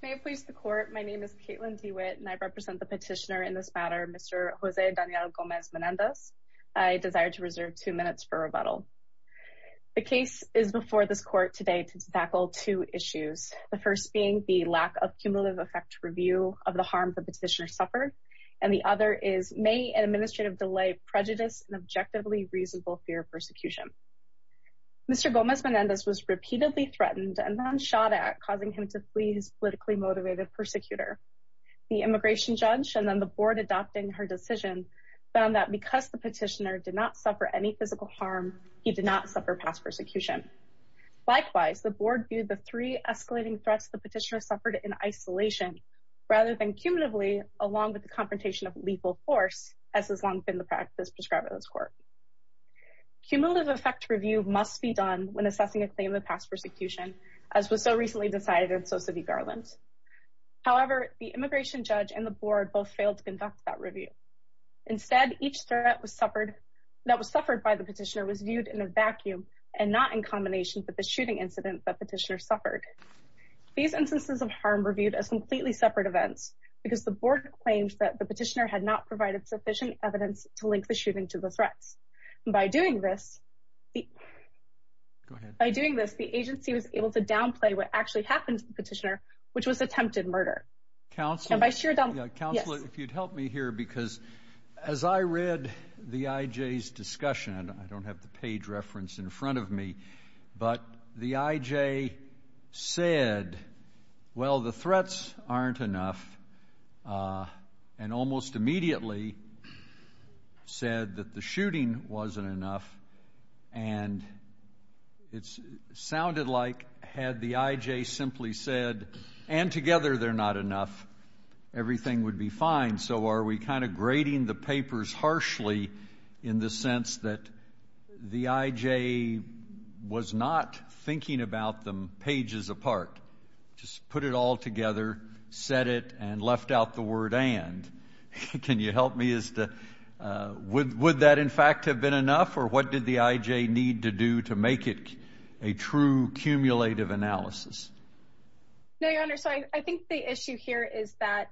May it please the Court, my name is Caitlin DeWitt, and I represent the petitioner in this matter, Mr. Jose Daniel Gomez-Menendez. I desire to reserve two minutes for rebuttal. The case is before this Court today to tackle two issues, the first being the lack of cumulative effect review of the harm the petitioner suffered, and the other is may an administrative delay prejudice an objectively reasonable fear of persecution. Mr. Gomez-Menendez was repeatedly threatened and then shot at causing him to flee his politically motivated persecutor. The immigration judge and then the board adopting her decision found that because the petitioner did not suffer any physical harm, he did not suffer past persecution. Likewise, the board viewed the three escalating threats the petitioner suffered in isolation rather than cumulatively along with the confrontation of lethal force as has long been the practice prescribed in this Court. Cumulative effect review must be done when assessing a claim of past persecution, as was so recently decided in Sosa v. Garland. However, the immigration judge and the board both failed to conduct that review. Instead, each threat was suffered that was suffered by the petitioner was viewed in a vacuum and not in combination with the shooting incident that petitioner suffered. These instances of harm were viewed as completely separate events because the board claims that the petitioner had not By doing this, the agency was able to downplay what actually happened to the petitioner which was attempted murder. Counselor, if you'd help me here because as I read the IJ's discussion, I don't have the page reference in front of me, but the IJ said, well the threats aren't enough and almost immediately said that the shooting wasn't enough and it sounded like had the IJ simply said, and together they're not enough, everything would be fine. So are we kind of grading the papers harshly in the sense that the IJ was not thinking about them pages apart? Just put it all together, set it, and left out the word and. Can you help me as to would that in fact have been enough or what did the IJ need to do to make it a true cumulative analysis? No, your honor. So I think the issue here is that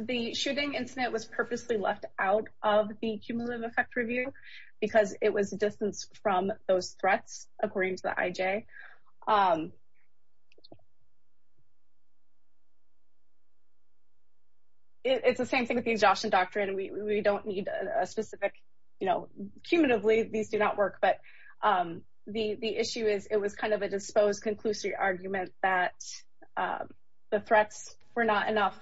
the shooting incident was purposely left out of the cumulative effect review because it was a distance from those threats according to the IJ. It's the same thing with the exhaustion doctrine. We don't need a specific, you know, cumulatively, these do not work, but the issue is it was kind of a disposed conclusive argument that the threats were not enough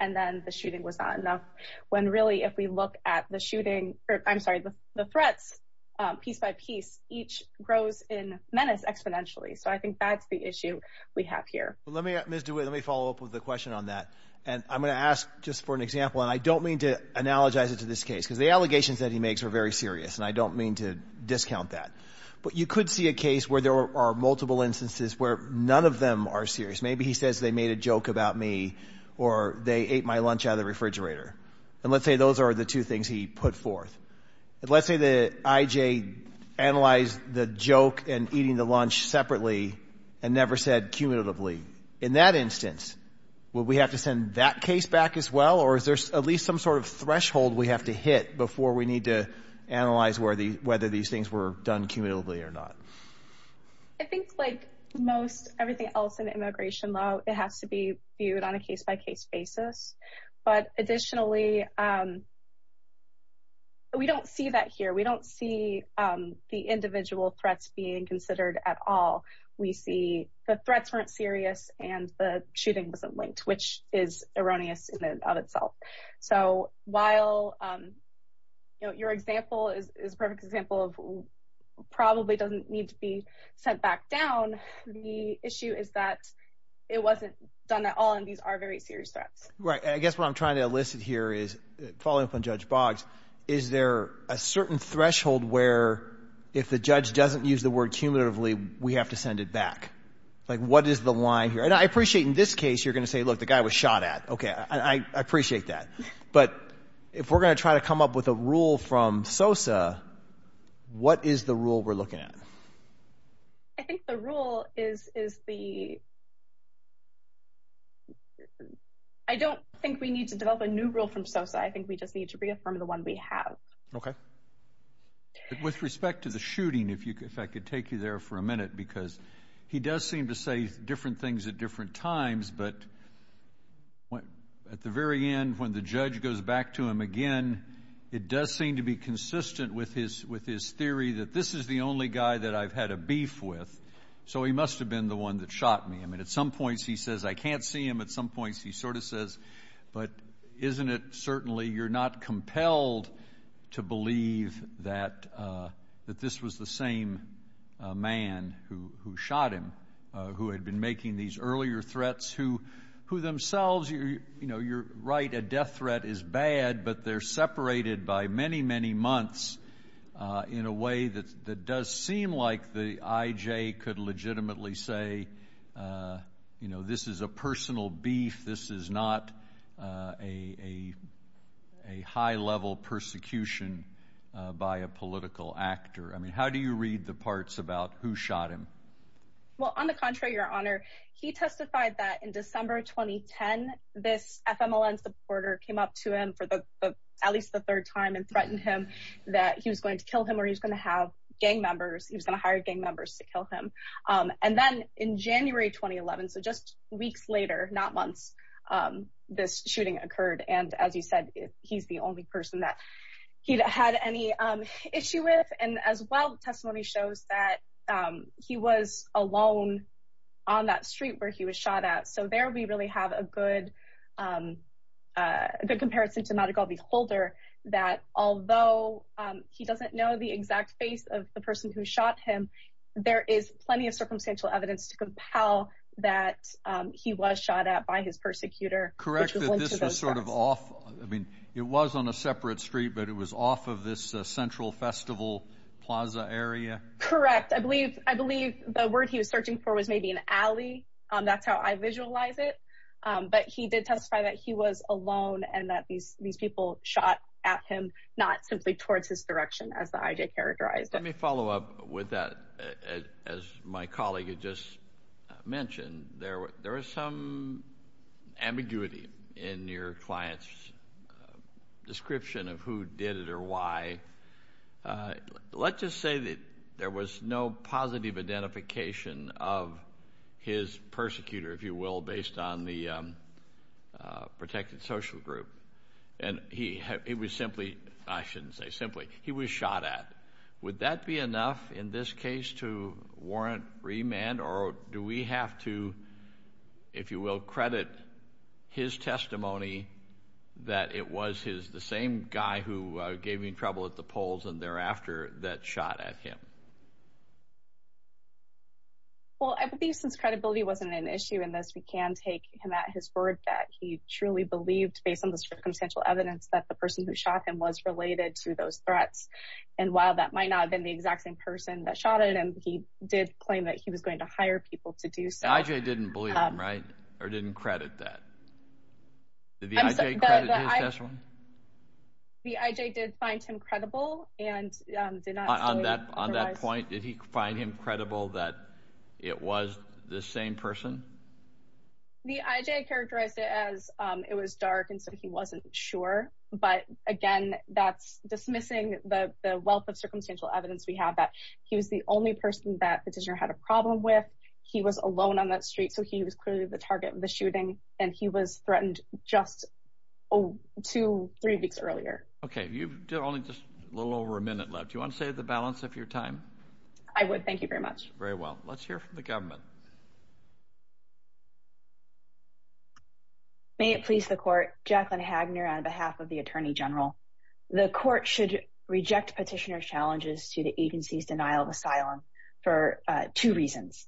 and then the shooting was not enough when really if we look at the shooting, I'm sorry, the threats piece by piece each grows in menace exponentially. So I think that's the issue we have here. Let me, Ms. DeWitt, let me follow up with the question on that and I'm going to ask just for an example and I don't mean to analogize it to this case because the allegations that he makes are very serious and I don't mean to discount that, but you could see a case where there are multiple instances where none of them are serious. Maybe he says they made a joke about me or they ate my lunch out of the refrigerator and let's say those are the two things he put forth. Let's say the IJ analyzed the joke and eating the lunch separately and never said cumulatively. In that instance, will we have to send that case back as well or is there at least some sort of threshold we have to hit before we need to analyze whether these things were done cumulatively or not? I think like most everything else in immigration law, it has to be viewed on a case-by-case basis. But additionally, we don't see that here. We don't see the individual threats being considered at all. We see the threats weren't serious and the shooting wasn't linked, which is erroneous in and of itself. So while your example is a perfect example of probably doesn't need to be sent back down, the issue is that it wasn't done at all and these are very serious threats. Right. I guess what I'm trying to elicit here is following up on Judge Boggs, is there a certain threshold where if the judge doesn't use the word cumulatively, we have to send it back? Like what is the line here? And I appreciate in this case, you're going to say, look, the guy was shot at. Okay. I appreciate that. But if we're going to try to come up with a rule from SOSA, what is the rule we're looking at? I think the rule is the... I don't think we need to develop a new rule from SOSA. I think we just need to reaffirm the one we have. Okay. With respect to the shooting, if I could take you there for a minute, because he does seem to say different things at different times. But at the very end, when the judge goes back to him again, it does seem to be consistent with his theory that this is the only guy that I've had a beef with. So he must have been the one that shot me. I mean, at some points he says, I can't see him. At some points he sort of says, but isn't it certainly you're not compelled to believe that this was the same man who shot him, who had been making these earlier threats, who themselves, you're right, a death threat is bad, but they're separated by many, many months in a way that does seem like the IJ could legitimately say, this is a personal beef. This is not a high level persecution by a political actor. I mean, how do you read the parts about who shot him? Well, on the contrary, your honor, he testified that in December 2010, this FMLN supporter came up to him for the, at least the third time and threatened him that he was going to kill him or he was going to have gang members. He was going to hire gang members. And then a couple of months, this shooting occurred. And as you said, he's the only person that he'd had any issue with. And as well, testimony shows that he was alone on that street where he was shot at. So there will be really have a good comparison to Madigal Beholder, that although he doesn't know the exact face of the person who shot him, there is plenty of circumstantial evidence to compel that he was shot at by his persecutor. Correct. This was sort of off. I mean, it was on a separate street, but it was off of this Central Festival Plaza area. Correct. I believe I believe the word he was searching for was maybe an alley. That's how I visualize it. But he did testify that he was alone and that these people shot at him, not simply towards his direction, as the I.J. characterized. Let me follow up with that. As my colleague had just mentioned, there was some ambiguity in your client's description of who did it or why. Let's just say that there was no positive identification of his persecutor, if you will, based on the protected social group. And he was simply I shouldn't say simply he was shot at. Would that be enough in this case to warrant remand? Or do we have to, if you will, credit his testimony that it was his the same guy who gave me trouble at the polls and thereafter that shot at him? Well, I believe since credibility wasn't an issue in this, we can take him at his word that he truly believed based on the circumstantial evidence that the person who shot him was related to those threats. And while that might not have been the exact same person that shot at him, he did claim that he was going to hire people to do so. I.J. didn't believe him, right? Or didn't credit that? Did the I.J. credit his testimony? The I.J. did find him credible and did not. On that on that point, did he find him credible that it was the same person? The I.J. characterized it as it was dark and so he wasn't sure. But again, that's dismissing the wealth of circumstantial evidence we have that he was the only person that petitioner had a problem with. He was alone on that street. So he was clearly the target of the shooting. And he was threatened just two, three weeks earlier. OK, you've only just a little over a minute left. You want to say the balance of your time? I would. Thank you very much. Very well. Let's hear from the government. May it please the court. Jacqueline Hagner on behalf of the attorney general. The court should reject petitioner challenges to the agency's denial of asylum for two reasons.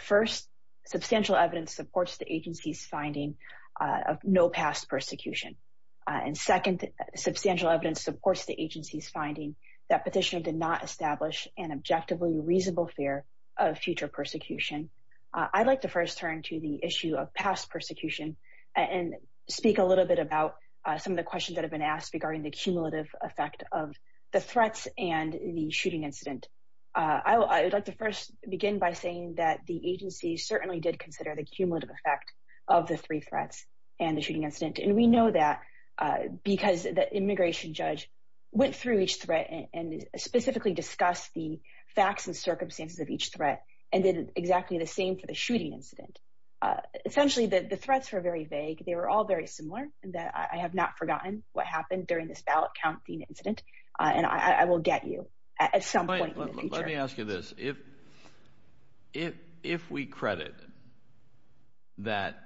First, substantial evidence supports the agency's finding of no past persecution. And second, substantial evidence supports the agency's that petitioner did not establish an objectively reasonable fear of future persecution. I'd like to first turn to the issue of past persecution and speak a little bit about some of the questions that have been asked regarding the cumulative effect of the threats and the shooting incident. I would like to first begin by saying that the agency certainly did consider the cumulative effect of the three threats and the shooting incident. And we know that because the immigration judge went through each threat and specifically discussed the facts and circumstances of each threat and did exactly the same for the shooting incident. Essentially, the threats were very vague. They were all very similar. And I have not forgotten what happened during this ballot counting incident. And I will get you at some point. Let me ask you this. If if if we credit that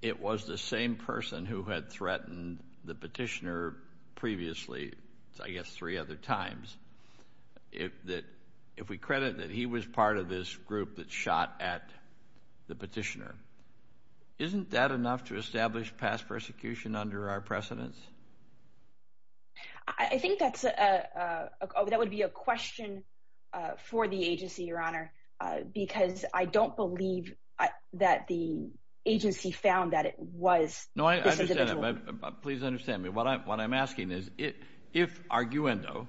it was the same person who had threatened the petitioner previously, I guess three other times, if that if we credit that he was part of this group that shot at the petitioner, isn't that enough to establish past persecution under our precedence? I think that's a that would be a question for the agency, Your Honor, because I don't believe that the agency found that it was. No, I understand. Please understand me. What I'm asking is if if arguendo,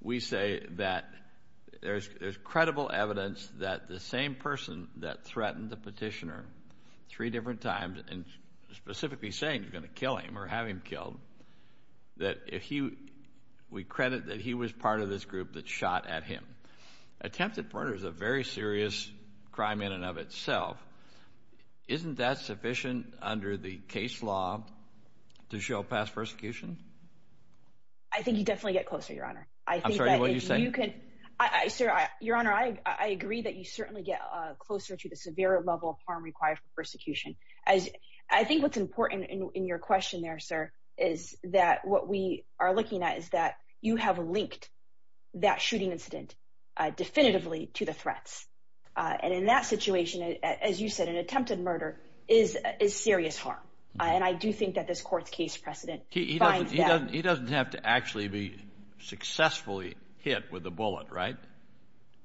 we say that there's there's credible evidence that the same person that threatened the petitioner three different times and specifically saying you're going to kill him or have him killed, that if you we credit that he was part of this group that shot at him, attempted murder is a very serious crime in and of itself. Isn't that sufficient under the case law to show past persecution? I think you definitely get closer, Your Honor. I'm sorry. What are you saying? You could. Sir, Your Honor, I agree that you certainly get closer to the severe level of harm required for persecution. As I think what's important in your question there, sir, is that what we are looking at is that you have linked that shooting incident definitively to the threats. And in that situation, as you said, an attempted murder is is serious harm. And I do think that this court's case precedent he doesn't he doesn't have to actually be successfully hit with a bullet, right?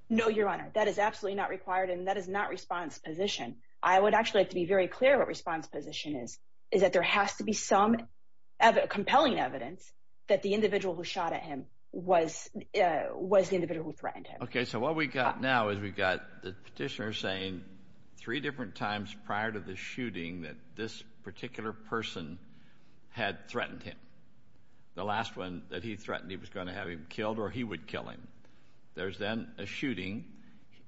No, Your Honor, that is absolutely not required. And that is not response position. I would actually like to be very clear. What response position is, is that there has to be some compelling evidence that the individual who shot at him was was the individual who threatened him? Okay, so what we got now is we got the petitioner saying three different times prior to the shooting that this particular person had threatened him. The last one that he threatened he was going to have him killed or he would kill him. There's then a shooting.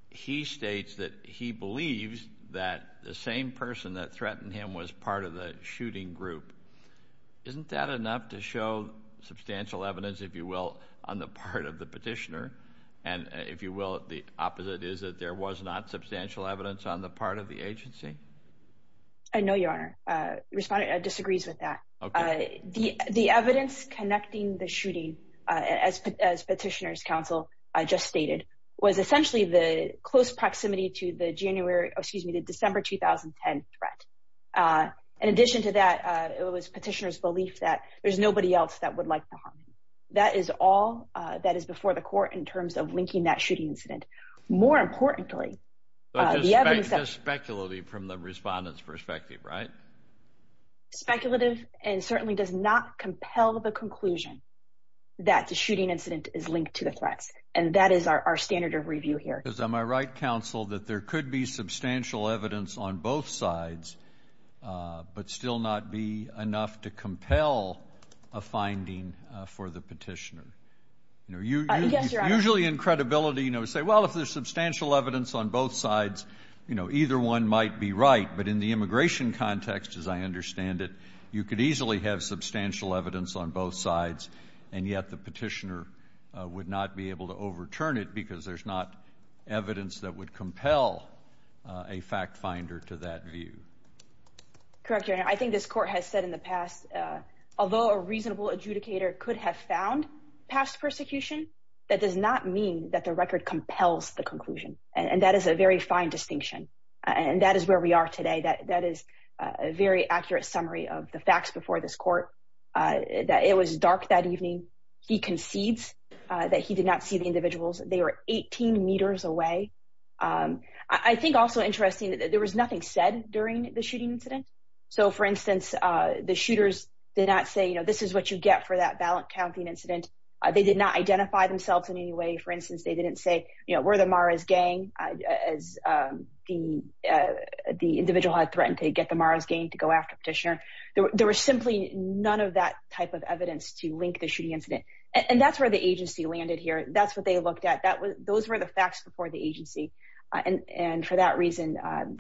He states that he believes that the same person that threatened him was part of the shooting group. Isn't that enough to show substantial evidence, if you will, on the part of the petitioner? And if you will, the opposite is that there was not substantial evidence on the part of the agency. I know, Your Honor. Respondent disagrees with that. The evidence connecting the shooting, as Petitioner's counsel just stated, was essentially the close proximity to the January excuse me, the December 2010 threat. In addition to that, it was Petitioner's belief that there's nobody else that would like to harm him. That is all that is before the court in terms of linking that shooting incident. More importantly, the evidence... Speculative from the respondent's perspective, right? Speculative and certainly does not compel the conclusion that the shooting incident is linked to the threats. And that is our standard of review here. Am I right, counsel, that there could be substantial evidence on both sides, but still not be enough to compel a finding for the petitioner? You know, usually in credibility, you know, say, well, if there's substantial evidence on both sides, you know, either one might be right. But in the immigration context, as I understand it, you could easily have substantial evidence on both sides, and yet the petitioner would not be able to to that view. Correct, your honor. I think this court has said in the past, although a reasonable adjudicator could have found past persecution, that does not mean that the record compels the conclusion. And that is a very fine distinction. And that is where we are today. That is a very accurate summary of the facts before this court, that it was dark that evening. He concedes that he did not see the individuals. They were 18 meters away. I think also interesting that there was nothing said during the shooting incident. So, for instance, the shooters did not say, you know, this is what you get for that ballot counting incident. They did not identify themselves in any way. For instance, they didn't say, you know, we're the Mara's gang, as the individual had threatened to get the Mara's gang to go after petitioner. There was simply none of that type of evidence to link the shooting incident. And that's where the agency landed here. That's what they looked at. Those were the facts before the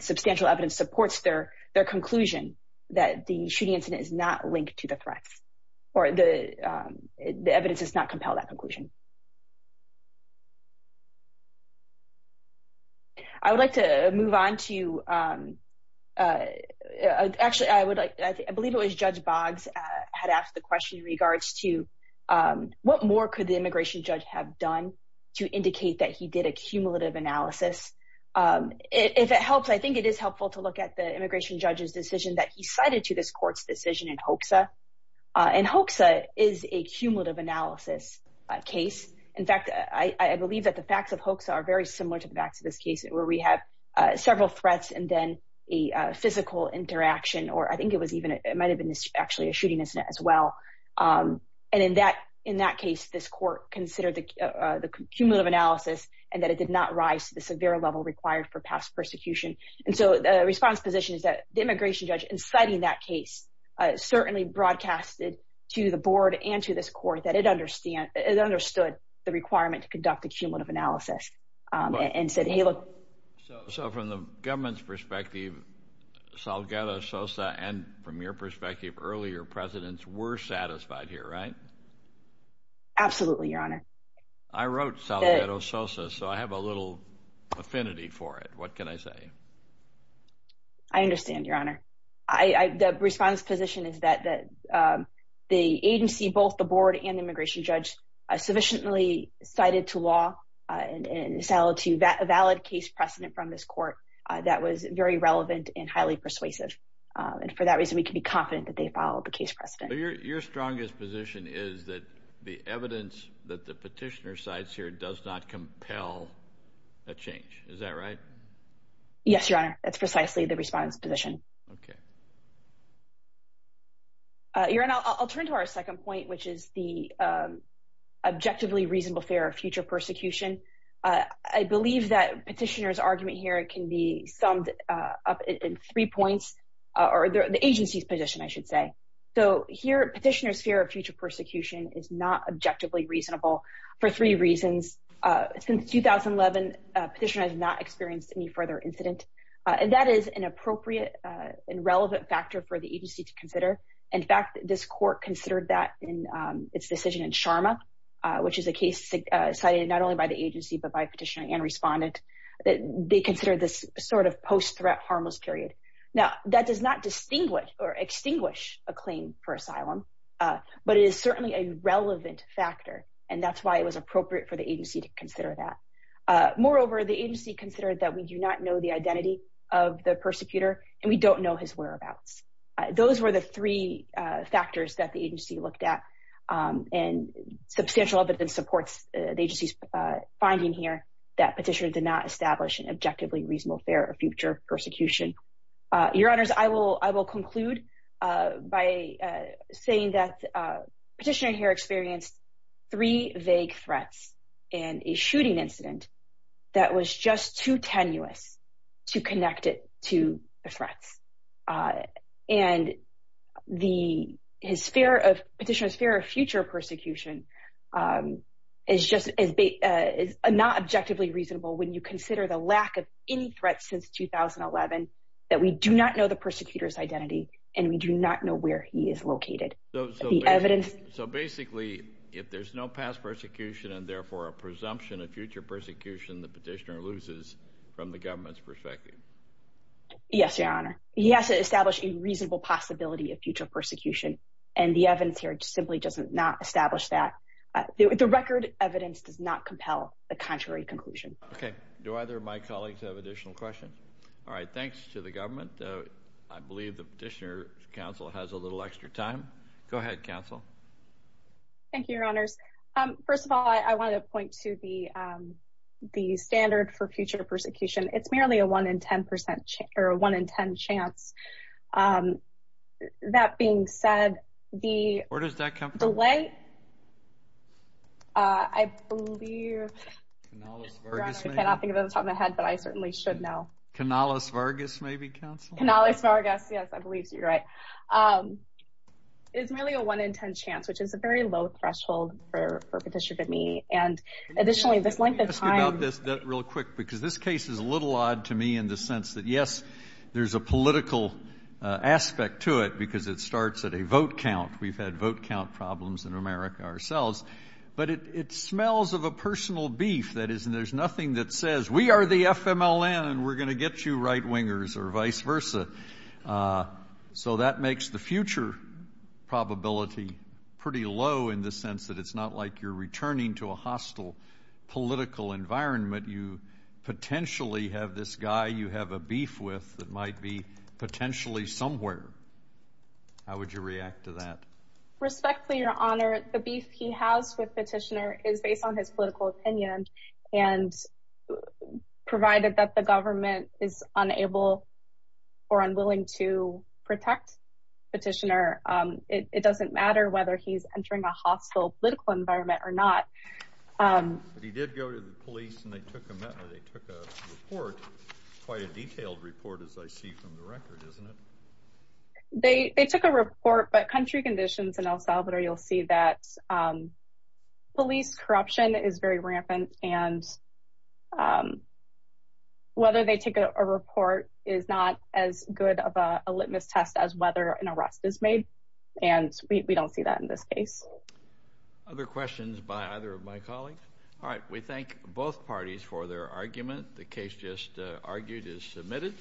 substantial evidence supports their conclusion that the shooting incident is not linked to the threats, or the evidence does not compel that conclusion. I would like to move on to, actually, I believe it was Judge Boggs had asked the question in regards to what more could the immigration judge have done to indicate that he did a cumulative analysis. If it helps, I think it is helpful to look at the immigration judge's decision that he cited to this court's decision in HOCSA. And HOCSA is a cumulative analysis case. In fact, I believe that the facts of HOCSA are very similar to the facts of this case, where we have several threats and then a physical interaction, or I think it was even, it might have been actually a shooting incident as well. And in that case, this court considered the cumulative analysis and that it did not rise to the severe level required for past persecution. And so the response position is that the immigration judge, in citing that case, certainly broadcasted to the board and to this court that it understood the requirement to conduct a cumulative analysis and said, hey, look. So from the government's perspective, Salgado, Sosa, and from your perspective earlier, presidents were satisfied here, right? Absolutely, Your Honor. I wrote Salgado, Sosa, so I have a little affinity for it. What can I say? I understand, Your Honor. The response position is that the agency, both the board and the immigration judge, sufficiently cited to law and settled to a valid case precedent from this court that was very relevant and highly persuasive. And for that reason, we can be confident that they followed the case precedent. Your strongest position is that the evidence that the petitioner cites here does not compel a change. Is that right? Yes, Your Honor. That's precisely the response position. Your Honor, I'll turn to our second point, which is the objectively reasonable fear of future persecution. I believe that petitioner's argument here can be summed up in three points, or the petitioner's fear of future persecution is not objectively reasonable for three reasons. Since 2011, petitioner has not experienced any further incident. And that is an appropriate and relevant factor for the agency to consider. In fact, this court considered that in its decision in Sharma, which is a case cited not only by the agency, but by petitioner and respondent. They consider this sort of post-threat harmless period. Now, that does not distinguish or but it is certainly a relevant factor. And that's why it was appropriate for the agency to consider that. Moreover, the agency considered that we do not know the identity of the persecutor and we don't know his whereabouts. Those were the three factors that the agency looked at. And substantial evidence supports the agency's finding here that petitioner did not establish an objectively reasonable fear of future persecution. Your Honors, I will conclude by saying that petitioner here experienced three vague threats and a shooting incident that was just too tenuous to connect it to the threats. And petitioner's fear of future persecution is not objectively reasonable when you consider the lack of any threats since 2011 that we do not know the persecutor's identity and we do not know where he is located. So basically, if there's no past persecution and therefore a presumption of future persecution, the petitioner loses from the government's perspective. Yes, Your Honor. He has to establish a reasonable possibility of future persecution. And the evidence here simply does not establish that. The record evidence does not compel the contrary conclusion. Okay. Do either of my colleagues have additional questions? All right. Thanks to the government. I believe the petitioner's counsel has a little extra time. Go ahead, counsel. Thank you, Your Honors. First of all, I want to point to the standard for future persecution. It's merely a 1 in 10 chance. That being said, the... Where does that come from? Delay? I believe... Canalis Vargas, maybe. Your Honor, I cannot think of it off the top of my head, but I certainly should know. Canalis Vargas, maybe, counsel? Canalis Vargas. Yes, I believe you're right. It's merely a 1 in 10 chance, which is a very low threshold for perpetution by me. And additionally, this length of time... Let me ask you about this real quick, because this case is a little odd to me in the sense that, yes, there's a political aspect to it, because it starts at a vote count. We've had vote count problems in America ourselves. But it smells of a personal beef, that is, and there's nothing that says, we are the FMLN and we're going to get you right-wingers or vice versa. So that makes the future probability pretty low in the sense that it's not like you're returning to that might be potentially somewhere. How would you react to that? Respectfully, Your Honor, the beef he has with Petitioner is based on his political opinion. And provided that the government is unable or unwilling to protect Petitioner, it doesn't matter whether he's entering a hostile political environment or not. But he did go to the police and they took a report, quite a detailed report, as I see from the record, isn't it? They took a report. But country conditions in El Salvador, you'll see that police corruption is very rampant. And whether they take a report is not as good of a litmus test as whether an arrest is made. And we don't see that in this case. Other questions by either of my colleagues? All right. We thank both parties for their argument. The case just argued is submitted.